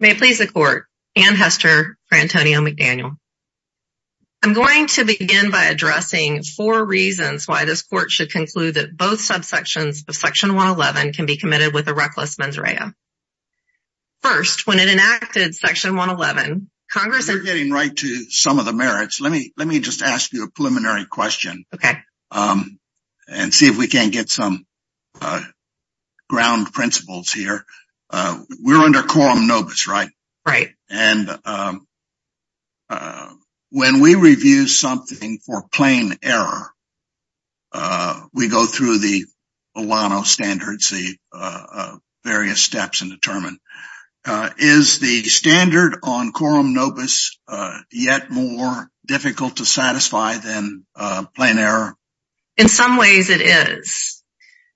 May it please the Court, Anne Hester for Antonio McDaniel. I'm going to begin by addressing four reasons why this Court should conclude that both subsections of Section 111 can be committed with a reckless mens rea. First, when it enacted Section 111, Congress— You're getting right to some of the merits. Let me just ask you a preliminary question and see if we can get some ground principles here. We're under quorum nobis, right? Right. When we review something for plain error, we go through the Olano standards, the various steps and determine. Is the standard on quorum nobis yet more difficult to satisfy than plain error? In some ways, it is.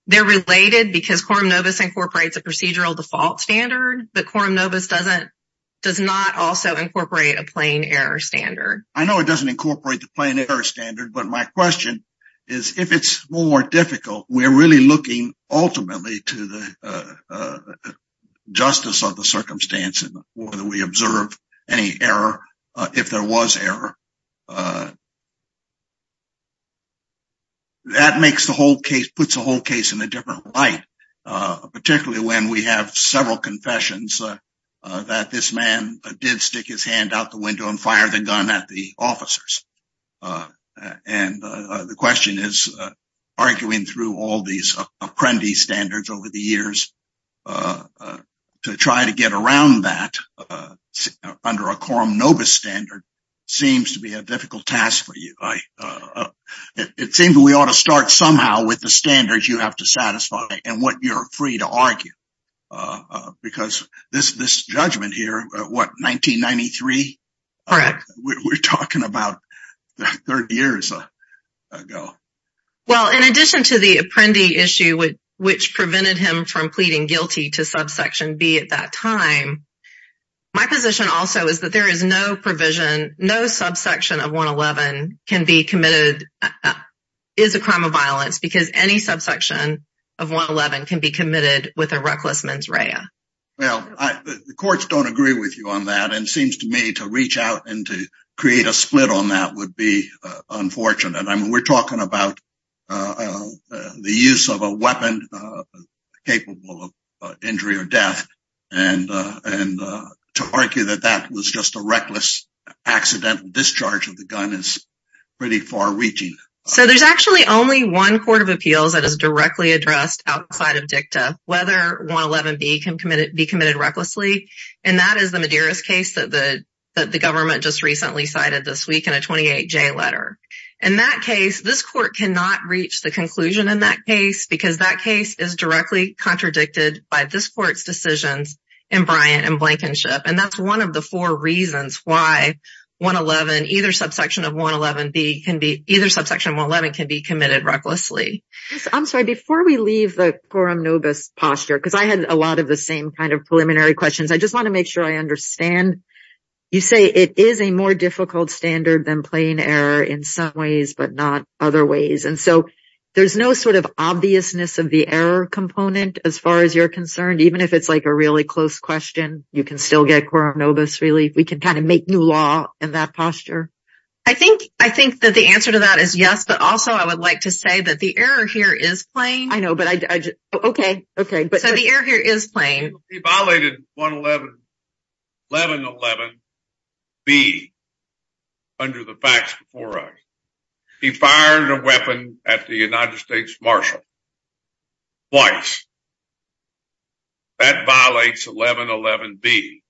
They're related because quorum nobis incorporates a procedural default standard, but quorum nobis does not also incorporate a plain error standard. I know it doesn't incorporate the plain error standard, but my question is if it's more difficult, we're really looking ultimately to the justice of the circumstance and whether we observe any error if there was error. That makes the whole case—puts the whole case in a different light, particularly when we have several confessions that this man did stick his hand out the window and fire the gun at the officers. And the question is, arguing through all these apprentice standards over the years to try to get around that under a quorum nobis standard seems to be a difficult task for you. It seems we ought to start somehow with the standards you have to satisfy and what you're free to argue because this judgment here, what, 1993? Correct. We're talking about 30 years ago. Well, in addition to the apprendee issue, which prevented him from pleading guilty to subsection B at that time, my position also is that there is no provision, no subsection of 111 can be committed is a crime of violence because any subsection of 111 can be committed with a reckless mens rea. Well, the courts don't agree with you on that and seems to me to reach out and to create a split on that would be unfortunate. I mean, we're talking about the use of a weapon capable of injury or death and to argue that that was just a reckless accidental discharge of the gun is pretty far reaching. So there's actually only one court of appeals that is directly addressed outside of dicta, whether 111 B can be committed recklessly. And that is the Medeiros case that the government just recently cited this week in a 28 J letter. And that case, this court cannot reach the conclusion in that case because that case is directly contradicted by this court's decisions in Bryant and Blankenship. And that's one of the four reasons why 111, either subsection of 111 B can be either subsection 111 can be committed recklessly. I'm sorry, before we leave the quorum novus posture, because I had a lot of the same kind of preliminary questions. I just want to make sure I understand. You say it is a more difficult standard than plain error in some ways, but not other ways. And so there's no sort of obviousness of the error component as far as you're concerned, even if it's like a really close question, you can still get quorum novus. Really, we can kind of make new law in that posture. I think, I think that the answer to that is yes, but also I would like to say that the error here is playing. I know, but I, okay. Okay. So the error here is playing. He violated 111 B under the facts before us. He fired a weapon at the United States Marshal twice. That violates 111 B.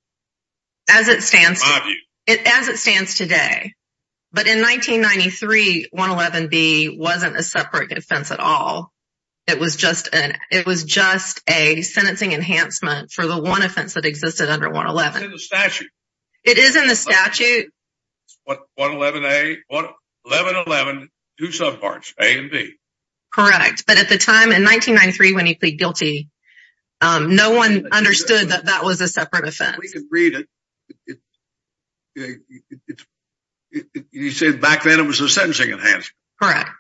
As it stands today. But in 1993, 111 B wasn't a separate offense at all. It was just an, it was just a sentencing enhancement for the one offense that existed under 111. It is in the statute. 111 A 1111 do subparts A and B. Correct. But at the time in 1993, when he pleaded guilty, no one understood that that was a separate offense. We can read it. Yeah. You said back then it was a sentencing enhancement. Correct.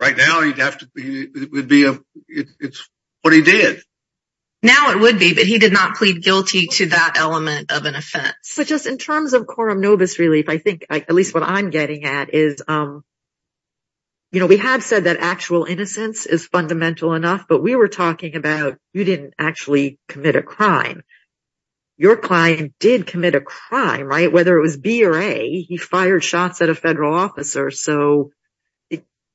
Right now you'd have to be, it would be a, it's what he did. Now it would be, but he did not plead guilty to that element of an offense. But just in terms of quorum novus relief, I think at least what I'm getting at is, you know, we have said that actual innocence is fundamental enough, but we were talking about, you didn't actually commit a crime. Your client did commit a crime, right? Whether it was B or a, he fired shots at a federal officer. So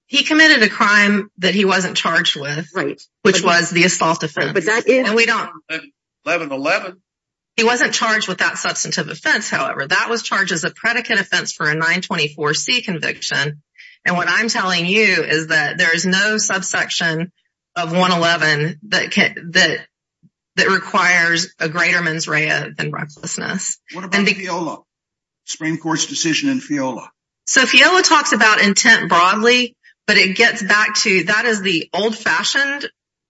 he committed a crime that he wasn't charged with, which was the assault offense. He wasn't charged with that substantive offense. However, that was charged as a predicate offense for a nine 24 C conviction. And what I'm telling you is that there is no subsection of one 11 that can, that, that requires a greater mens rea than recklessness. What about Fiola? Supreme court's decision in Fiola. So Fiola talks about intent broadly, but it gets back to, that is the old fashioned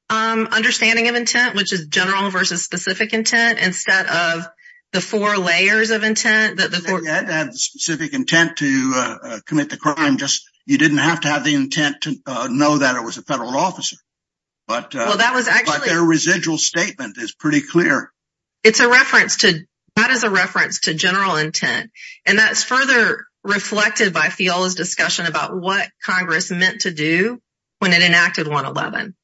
understanding of intent, which is general versus specific intent. Instead of the four layers of intent that the four. You had to have the specific intent to But that was actually a residual statement is pretty clear. It's a reference to, that is a reference to general intent. And that's further reflected by Fiola's discussion about what Congress meant to do when it enacted one 11.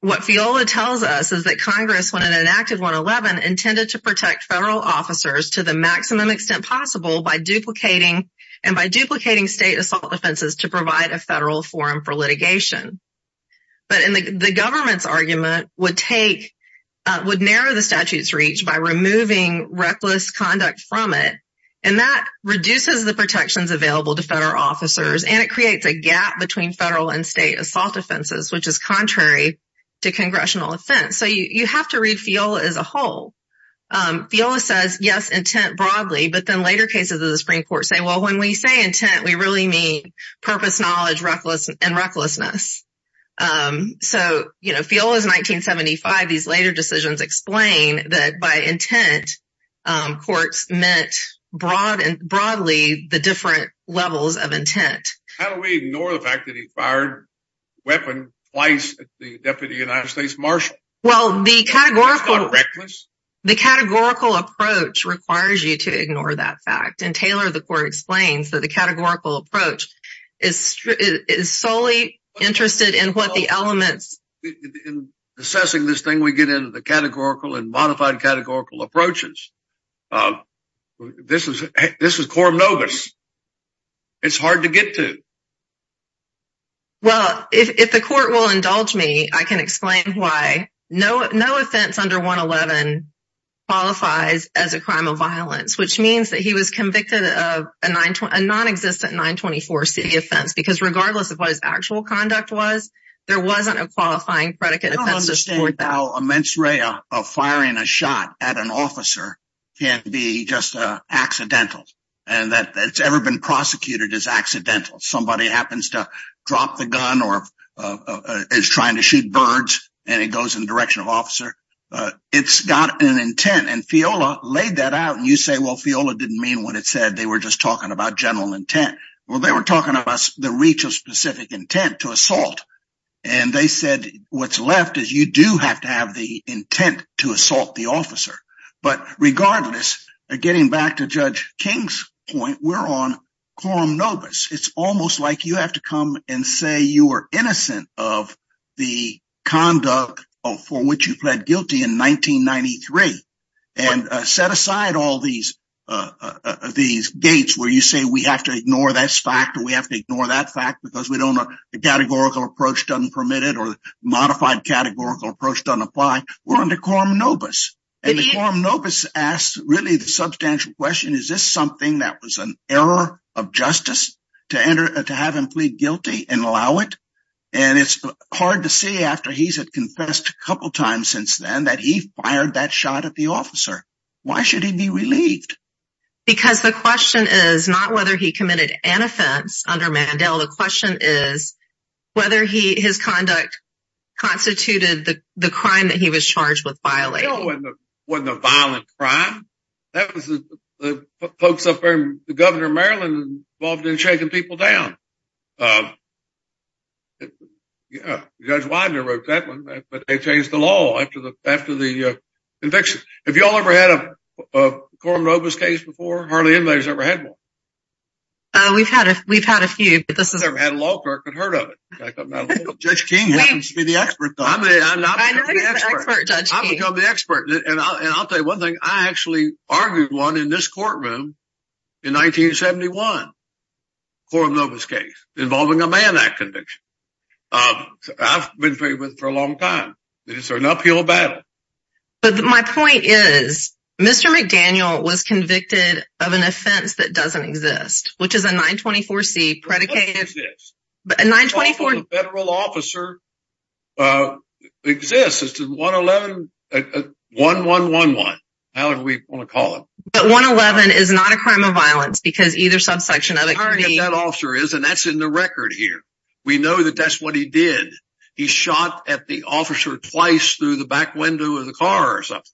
What Fiola tells us is that Congress, when it enacted one 11 intended to protect federal officers to the maximum extent possible by duplicating and by duplicating state assault offenses to provide a federal forum for litigation. But in the government's argument would take, would narrow the statute's reach by removing reckless conduct from it. And that reduces the protections available to federal officers. And it creates a gap between federal and state assault offenses, which is contrary to congressional offense. So you have to read Fiola as a whole. Fiola says, yes, intent broadly, but then later cases of the Supreme court say, well, when we say intent, we really mean purpose, knowledge, reckless and recklessness. So, you know, Fiola is 1975. These later decisions explain that by intent courts meant broad and broadly the different levels of intent. How do we ignore the fact that he fired weapon twice at the deputy United States marshal? Well, the categorical reckless, the categorical approach requires you to ignore that fact. And Taylor, the court explains that the categorical approach is, is solely interested in what the elements in assessing this thing, we get into the categorical and modified categorical approaches. This is, this is core it's hard to get to. Well, if the court will indulge me, I can explain why no, no offense under one 11 qualifies as a crime of violence, which means that he was convicted of a nine, a non-existent nine 24 city offense, because regardless of what his actual conduct was, there wasn't a qualifying predicate. How immense Ray of firing a shot at an officer can be just accidental. And that it's ever been prosecuted as accidental. Somebody happens to drop the gun or is trying to shoot birds and it goes in the direction of officer. It's got an intent and Fiola laid that out. And you say, well, Fiola didn't mean what it said. They were just talking about general intent. Well, they were talking about the reach of specific intent to assault. And they said, what's left is you do have to have the intent to assault the officer, but regardless of getting back to judge King's point, we're on. It's almost like you have to come and say, you were innocent of the conduct of, for which you pled guilty in 1993 and set aside all these, uh, these gates where you say, we have to ignore that fact that we have to ignore that fact because we don't know the categorical approach doesn't permit it or the modified categorical approach doesn't apply. We're under quorum nobus and the quorum nobus asks really the substantial question. Is this something that was an error of justice to enter, to have him plead guilty and allow it. And it's hard to see after he's had confessed a couple of times since then, that he fired that shot at the officer. Why should he be relieved? Because the question is not whether he committed an offense under Mandel. The question is whether he, his conduct constituted the crime that he was charged with violating. Wasn't a violent crime. That was the folks up there, the governor of Maryland involved in shaking people down. Um, yeah, judge Widener wrote that one, but they changed the law after the, after the conviction. Have you all ever had a quorum nobus case before? Hardly anybody's ever had one. Uh, we've had a, we've had a few, but this is never had a law clerk that heard of it. Judge King happens to be the expert. I'm the expert. And I'll tell you one thing. I actually argued one in this courtroom in 1971 quorum nobus case involving a man that conviction. Um, I've been trained with for a long time. Is there an uphill battle? But my point is Mr. McDaniel was convicted of an offense that doesn't exist, which is a 924 C predicated, but a 924 federal officer, uh, exists as to one 11, uh, 1, 1, 1, 1, however we want to call it. But one 11 is not a crime of violence because either subsection of that officer is, and that's in the record here. We know that that's what he did. He shot at the officer twice through the back window of the car or something.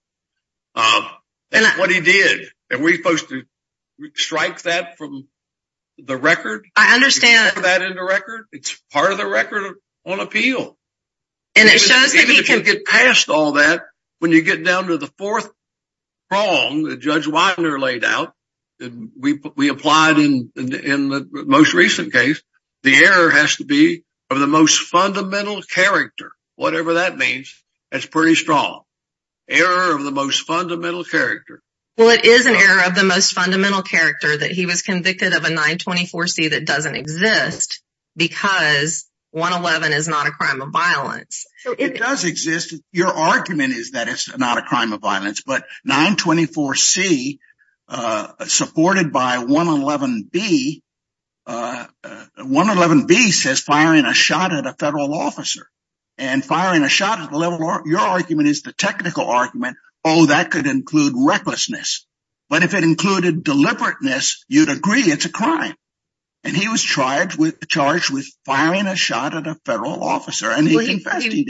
Um, and what he did, and we supposed to strike that from the record. I understand that in the record, it's part of the record on appeal. And it shows that he can get past all that. When you get down to the fourth wrong, the judge Wagner laid out, and we, we applied in the, in the most recent case, the error has to be of the most fundamental character, whatever that means. That's pretty strong error of the most fundamental character. Well, it is an error of the most fundamental character that he was convicted of a 924 C that doesn't exist because one 11 is not a crime of violence. It does exist. Your argument is that it's not a crime of violence, but 924 C, uh, supported by one 11 B, uh, uh, one 11 B says firing a shot at a federal officer and firing a shot at the level of your argument is the technical argument. Oh, that could include recklessness, but if it included deliberateness, you'd agree it's a crime. And he was charged with charged with firing a shot at a federal officer. And he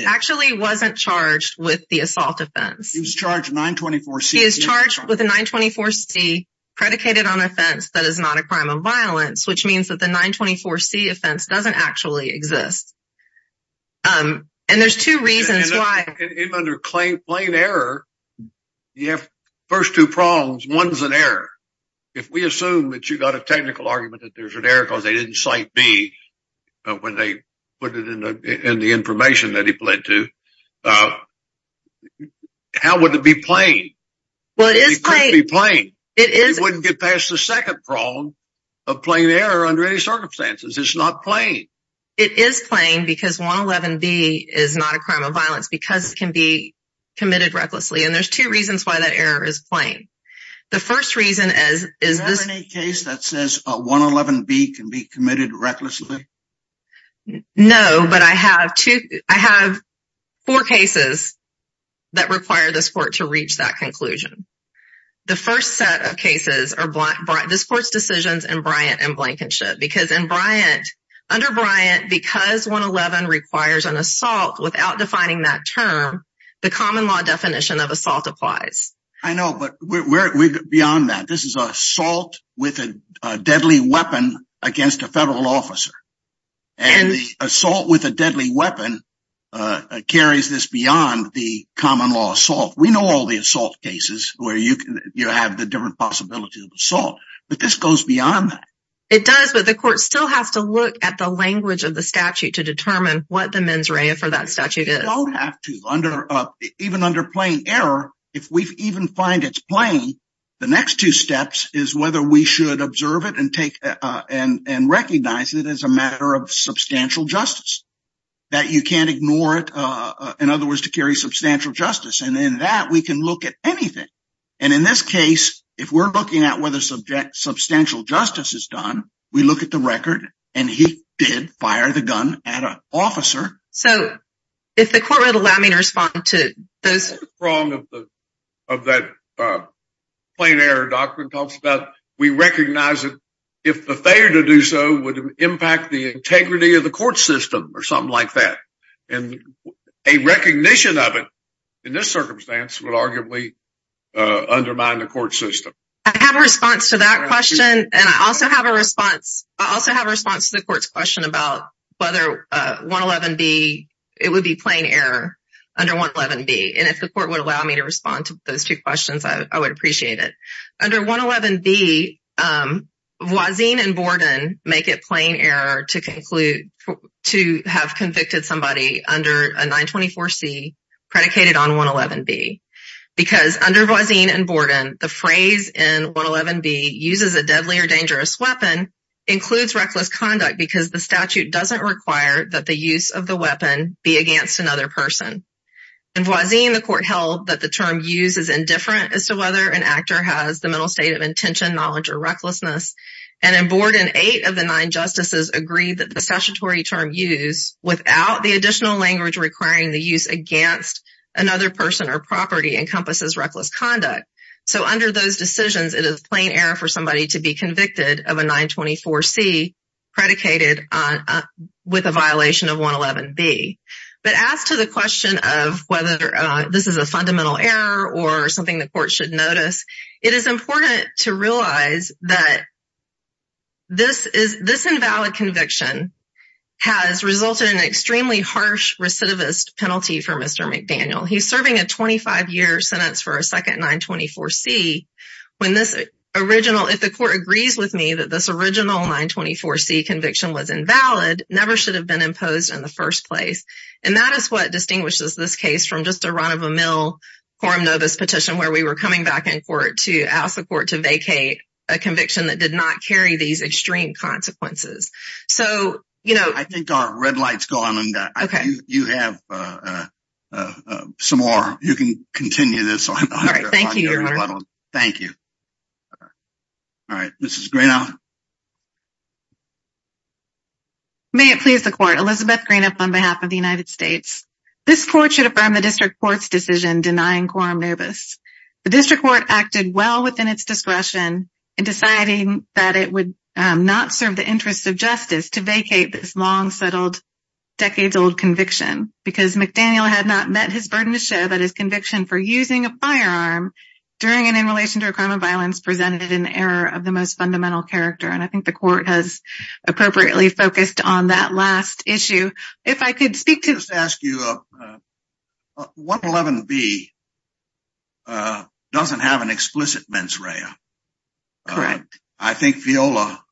actually wasn't charged with the assault offense. He was charged with a 924 C predicated on offense. That is not a crime of violence, which means that the 924 C offense doesn't actually exist. Um, and there's two reasons why under claim plane error, you have first two prongs. One's an error. If we assume that you got a technical argument, that there's an error cause they didn't cite B when they put it in the, in the information that he pled to, uh, how would it be playing? Well, it is playing. It wouldn't get past the second prong of playing the error under any circumstances. It's not playing. It is playing because one 11 B is not a crime of violence because it can be committed recklessly. And there's two reasons why that error is playing. The first reason is, is this any case that says, uh, one 11 B can be committed recklessly? No, but I have two, I have four cases that require this court to reach that conclusion. The first set of cases are black, bright this court's decisions and Bryant and Blankenship because in Bryant under Bryant, because one 11 requires an assault without defining that term, the common law definition of assault applies. I know, but we're beyond that. This is a salt with a deadly weapon against a federal officer and assault with a deadly weapon, uh, carries this beyond the common law assault. We know all the assault cases where you can, you have the different possibility of assault, but this goes beyond that. It does, but the court still has to look at the language of the statute to determine what the mens rea for that statute. You don't have to under, uh, even under playing error. If we've even find it's playing the next two steps is whether we should observe it and take, uh, and, and recognize it as a matter of substantial justice that you can't ignore it. Uh, in other words to carry substantial justice. And then that we can look at anything. And in this case, if we're looking at whether subject substantial justice is done, we look at the record and he did fire the gun at an officer. So if the court would allow me to respond to those wrong of the, of that, uh, plain air doctrine talks about, we recognize it. If the failure to do so would impact the integrity of the court system or something like that. And a recognition of it in this circumstance would arguably, uh, undermine the court system. I have a response to that question. And I also have a response. I also have a response to the court's question about whether, uh, one 11 B it would be plain air under one 11 B. And if the court would allow me to respond to those two questions, I would appreciate it under one 11 B. Voisin and Borden make it plain air to conclude to have convicted somebody under a nine 24 C predicated on one 11 B because under Voisin and Borden, the phrase in one 11 B uses a deadly or dangerous weapon includes reckless conduct because the statute doesn't require that the use of the weapon be against another person. And Voisin the court held that the term use is indifferent as whether an actor has the mental state of intention, knowledge, or recklessness. And in Borden, eight of the nine justices agreed that the statutory term use without the additional language requiring the use against another person or property encompasses reckless conduct. So under those decisions, it is plain air for somebody to be convicted of a nine 24 C predicated on, uh, with a violation of one 11 B. But as to the question of whether, uh, this is a fundamental error or something the court should notice, it is important to realize that this is this invalid conviction has resulted in an extremely harsh recidivist penalty for Mr. McDaniel. He's serving a 25 year sentence for a second nine 24 C when this original, if the court agrees with me that this original nine 24 C conviction was invalid, never should have been imposed in the first place. And that is what distinguishes this case from just a run quorum novice petition where we were coming back in court to ask the court to vacate a conviction that did not carry these extreme consequences. So, you know, I think our red lights gone and you have, uh, uh, uh, some more, you can continue this. Thank you. All right. May it please the court, Elizabeth green up on behalf of the United States. This court should affirm the district court's decision denying quorum novice. The district court acted well within its discretion in deciding that it would not serve the interests of justice to vacate this long settled decades old conviction because McDaniel had not met his burden to show that his conviction for using a firearm during and in relation to a crime of violence presented an error of the most fundamental character. And I think the court has appropriately focused on that last issue. If I could speak to you, uh, 111 B, uh, doesn't have an explicit mens rea. I think Viola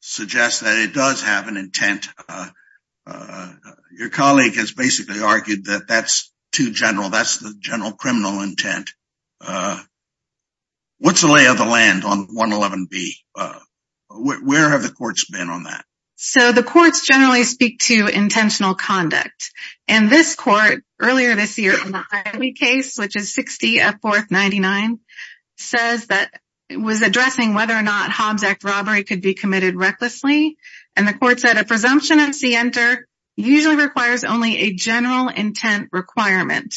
suggests that it does have an intent. Uh, uh, your colleague has basically argued that that's too general. That's the general criminal intent. Uh, what's the lay of the land on one 11 B, uh, where have the courts been on that? So the courts generally speak to intentional conduct. And this court earlier this year, in the case, which is 60 of 4th 99 says that it was addressing whether or not Hobbs act robbery could be committed recklessly. And the court said a presumption of C enter usually requires only a general intent requirement,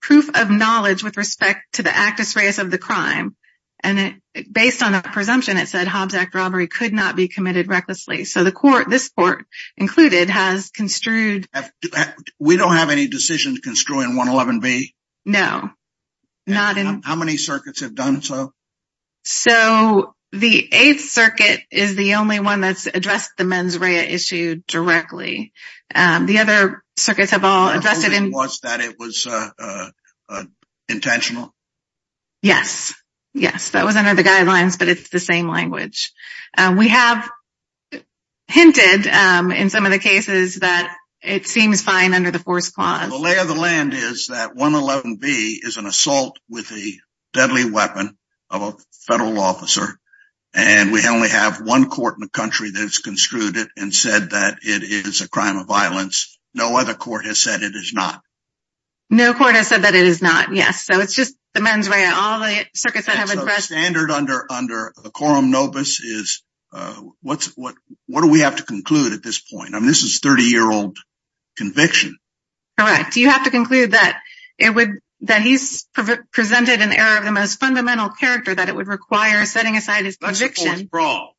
proof of knowledge with respect to the actus reus of the crime. And it based on a presumption, it said Hobbs act robbery could not be committed recklessly. So the court, this court included has construed, we don't have any decisions construing one 11 B. No, not in how many circuits have done. So, so the eighth circuit is the only one that's addressed the mens rea issue directly. Um, the other circuits have all invested in was that it was, uh, uh, uh, intentional. Yes. Yes. That was under the guidelines, but it's the same language. We have hinted, um, in some of the cases that it seems fine under the force clause. The lay of the land is that one 11 B is an assault with a deadly weapon of a federal officer. And we only have one court in the country that has construed it and said that it is a crime of violence. No other court has said it is not. No court has said that it is not. Yes. So it's just the mens rea, all the circuits that have addressed standard under, under the quorum nobis is, uh, what's, what, what do we have to conclude at this point? I mean, this is 30 year old conviction. Correct. Do you have to conclude that it would, that he's presented an error of the most fundamental character that it would require setting aside his conviction. But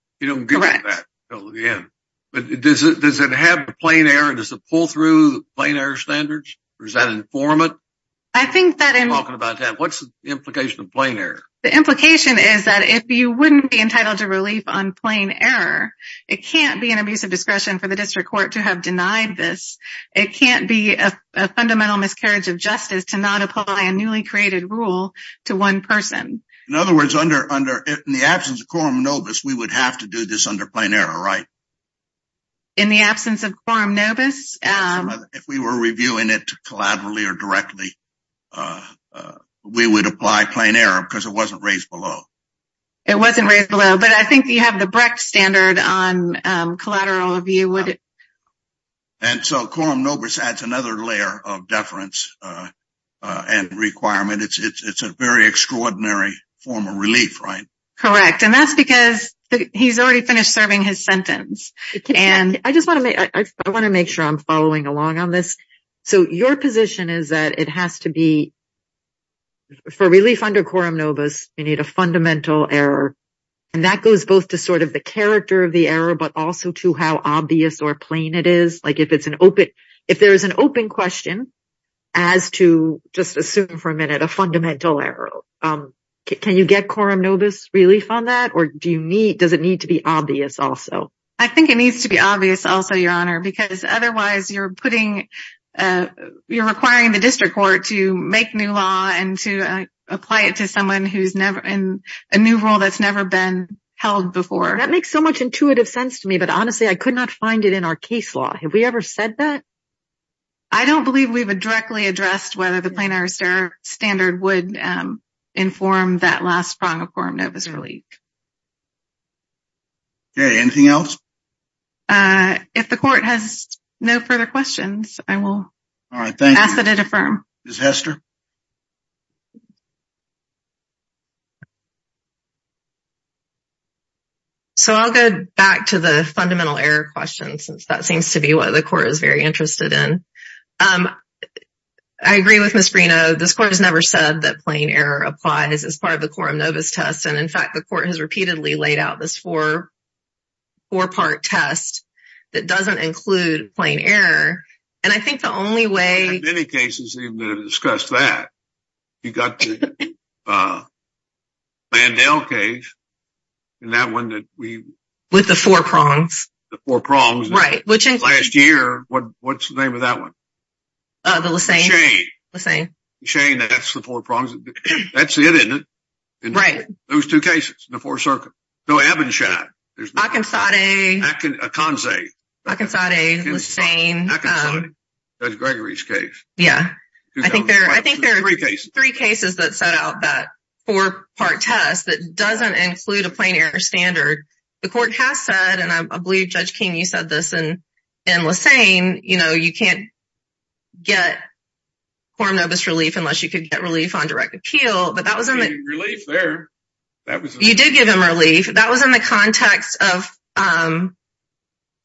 does it, does it have a plain error? Does it pull through plain air standards or is that formant? I think that in talking about that, what's the implication of playing there? The implication is that if you wouldn't be entitled to relief on plane error, it can't be an abuse of discretion for the district court to have denied this. It can't be a fundamental miscarriage of justice to not apply a newly created rule to one person. In other words, under, under the absence of quorum nobis, we would have to do this under plain error, right? In the absence of quorum nobis. If we were reviewing it to collaboratively or directly, we would apply plain error because it wasn't raised below. It wasn't raised below, but I think you have the Brecht standard on collateral of you. And so quorum nobis adds another layer of deference and requirement. It's, it's, it's a very extraordinary form of relief, right? Correct. And that's because he's already finished serving his sentence. And I just want to make, I want to make sure I'm following along on this. So your position is that it has to be for relief under quorum nobis, you need a fundamental error. And that goes both to sort of the character of the error, but also to how obvious or plain it is. Like if it's an open, if there is an open question as to just assume for a minute, a fundamental error, can you get quorum nobis relief on that? Or do you need, does it need to be obvious also? I think it needs to be obvious also, your honor, because otherwise you're putting, you're requiring the district court to make new law and to apply it to someone who's never in a new role. That's never been held before. That makes so much intuitive sense to me, but honestly, I could not find it in our case law. Have we ever said that? I don't believe we would directly addressed whether the plain error standard would inform that last prong of quorum nobis relief. Okay. Anything else? If the court has no further questions, I will ask that it affirm. Ms. Hester. So I'll go back to the fundamental error question since that seems to be what the court is very interested in. I agree with Ms. Bruno. This court has never said that plain error applies as part of the quorum nobis test. And in fact, the court has repeatedly laid out this four-part test that doesn't include plain error. And I think the only way- In many cases, even to discuss that, you've got the Mandel case and that one that we- With the four prongs. The four prongs. Right. Which includes- Last year, what's the name of that one? The Lissain. Lissain. Lissain, that's the four prongs. That's it, isn't it? Right. Those two cases, the four circles. No, Ebb and Shad. There's- Akinsade. Akinsade. Akinsade, Lissain. Judge Gregory's case. Yeah. I think there are three cases that set out that four-part test that doesn't include a plain error standard. The court has said, and I believe, Judge King, you said this in Lissain, you can't get quorum nobis relief unless you could get relief on direct appeal. But that was- Relief there. That was- You did give him relief. That was in the context of-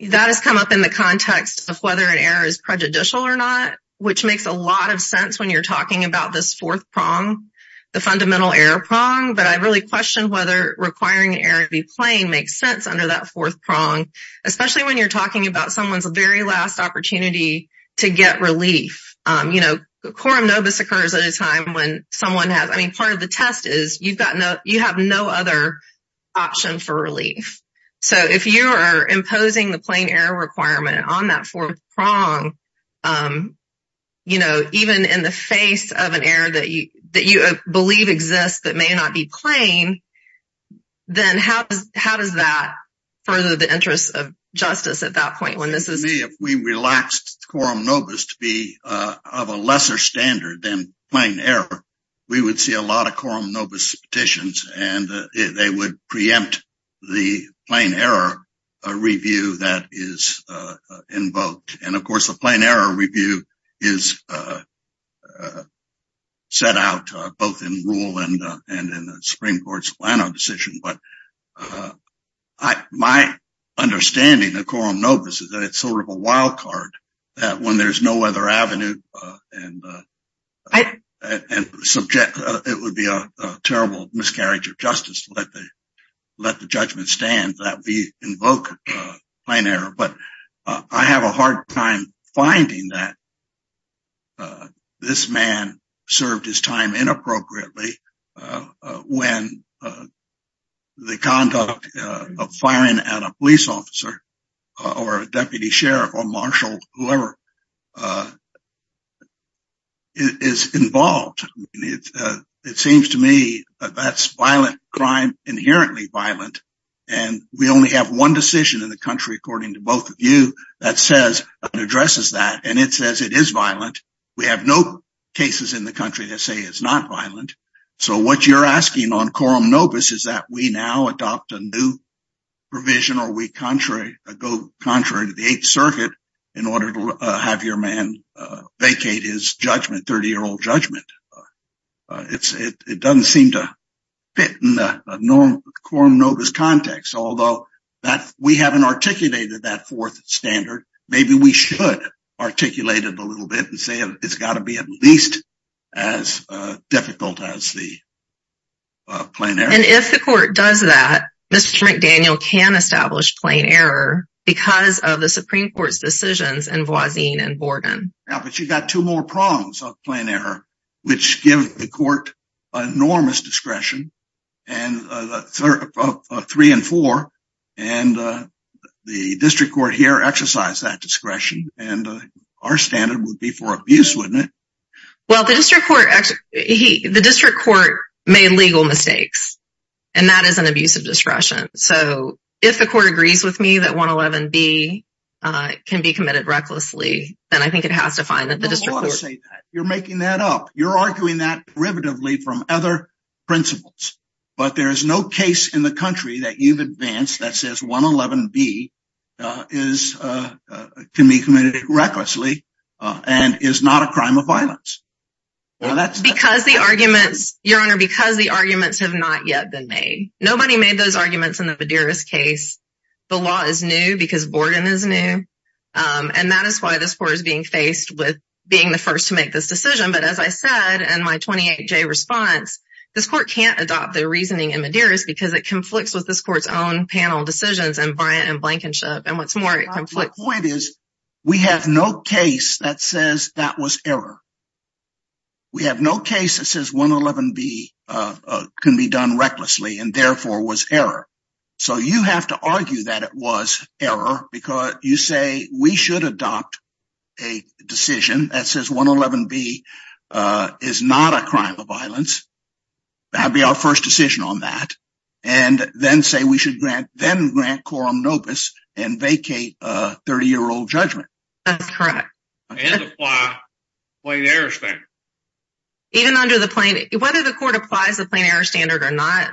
That has come up in the context of whether an error is prejudicial or not, which makes a lot of sense when you're talking about this fourth prong, the fundamental error prong. But I really question whether requiring an error to be plain makes sense under that fourth prong, especially when you're talking about someone's very last opportunity to get relief. Quorum nobis occurs at a time when someone has- I mean, the test is you have no other option for relief. So if you are imposing the plain error requirement on that fourth prong, even in the face of an error that you believe exists that may not be plain, then how does that further the interest of justice at that point when this is- To me, if we relaxed quorum nobis to be of a lesser standard than plain error, we would see a lot of quorum nobis petitions and they would preempt the plain error review that is invoked. And of course, the plain error review is set out both in rule and in the Supreme Court's Plano decision. But my understanding of quorum nobis is that it's sort of a wild card that when there's no other avenue and it would be a terrible miscarriage of justice to let the judgment stand that we invoke plain error. But I have a hard time finding that this man served his time inappropriately when the conduct of firing at a police officer or a deputy sheriff or marshal, whoever, is involved. It seems to me that's violent crime, inherently violent. And we only have one decision in the country, according to both of you, that says and addresses that. And it says it is violent. We have no cases in the country that say it's not violent. So what you're asking on quorum nobis is that we now adopt a new provision or we go contrary to the Eighth Circuit in order to have your man vacate his judgment, 30-year-old judgment. It doesn't seem to fit in the quorum nobis context. Although we haven't articulated that fourth standard, maybe we should articulate it a little bit and say it's got to be at least as difficult as the plain error. And if the court does that, Mr. McDaniel can establish plain error because of the Supreme Court's decisions in Voisin and Borden. Yeah, but you've got two more prongs of plain error, which give the court enormous discretion and three and four. And the district court here exercise that discretion. And our standard would be for abuse, wouldn't it? Well, the district court made legal mistakes. And that is an abuse of discretion. So if the court agrees with me that 111B can be committed recklessly, then I think it has to find that the district court... You're making that up. You're arguing that derivatively from other principles. But there is no case in the country that you've advanced that says 111B can be committed recklessly and is not a crime of violence. Because the arguments, Your Honor, because the arguments have not yet been made. Nobody made those arguments in the Medeiros case. The law is new because Borden is new. And that is why this court is being faced with being the first to make this decision. But as I said, in my 28-J response, this court can't adopt the reasoning in Medeiros because it conflicts with this court's own panel decisions and Bryant and Blankenship. And what's more, it conflicts... The point is, we have no case that says that was error. We have no case that says 111B can be done recklessly and therefore was error. So you have to argue that it was error because you say we should adopt a decision that says 111B is not a crime of violence. That would be our first decision on that. And then say we then grant quorum nobis and vacate a 30-year-old judgment. That's correct. And apply the plain error standard. Even under the plain... Whether the court applies the plain error standard or not...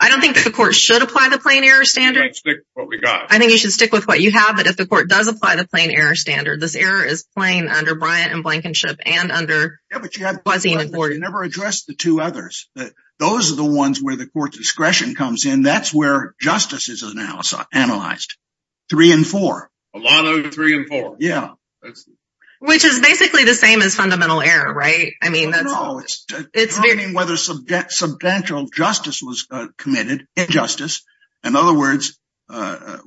I don't think the court should apply the plain error standard. I think you should stick with what you have. But if the court does apply the plain error standard, this error is plain under Bryant and Blankenship and under... Yeah, but you never addressed the two others. Those are the that's where justice is analyzed. Three and four. A lot of three and four. Yeah. Which is basically the same as fundamental error, right? I mean, that's... No, it's determining whether substantial justice was committed, injustice. In other words,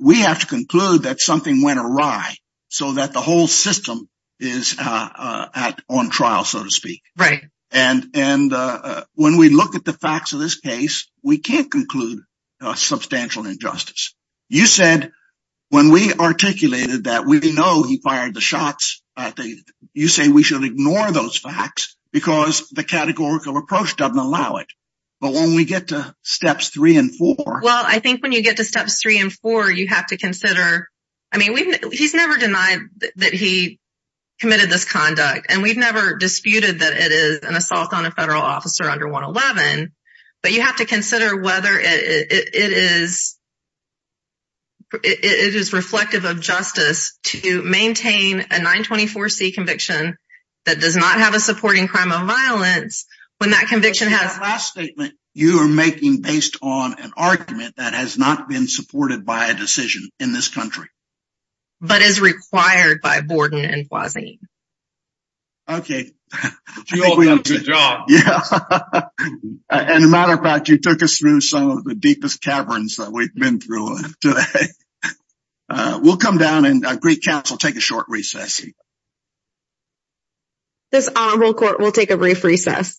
we have to conclude that something went awry so that the whole system is on trial, so to speak. Right. And when we look at the facts of this case, we can't conclude substantial injustice. You said when we articulated that we know he fired the shots, you say we should ignore those facts because the categorical approach doesn't allow it. But when we get to steps three and four... Well, I think when you get to steps three and four, you have to consider... I mean, he's never denied that he committed this conduct, and we've never disputed that it is an assault on a federal officer under 111. But you have to consider whether it is reflective of justice to maintain a 924C conviction that does not have a supporting crime of violence when that conviction has... That last statement you are making based on an argument that has not been supported by a decision in this country. But is required by Borden and Boisilligne. Okay. You all done a good job. Yeah. And a matter of fact, you took us through some of the deepest caverns that we've been through today. We'll come down and Greek Council, take a short recess. This will court will take a brief recess.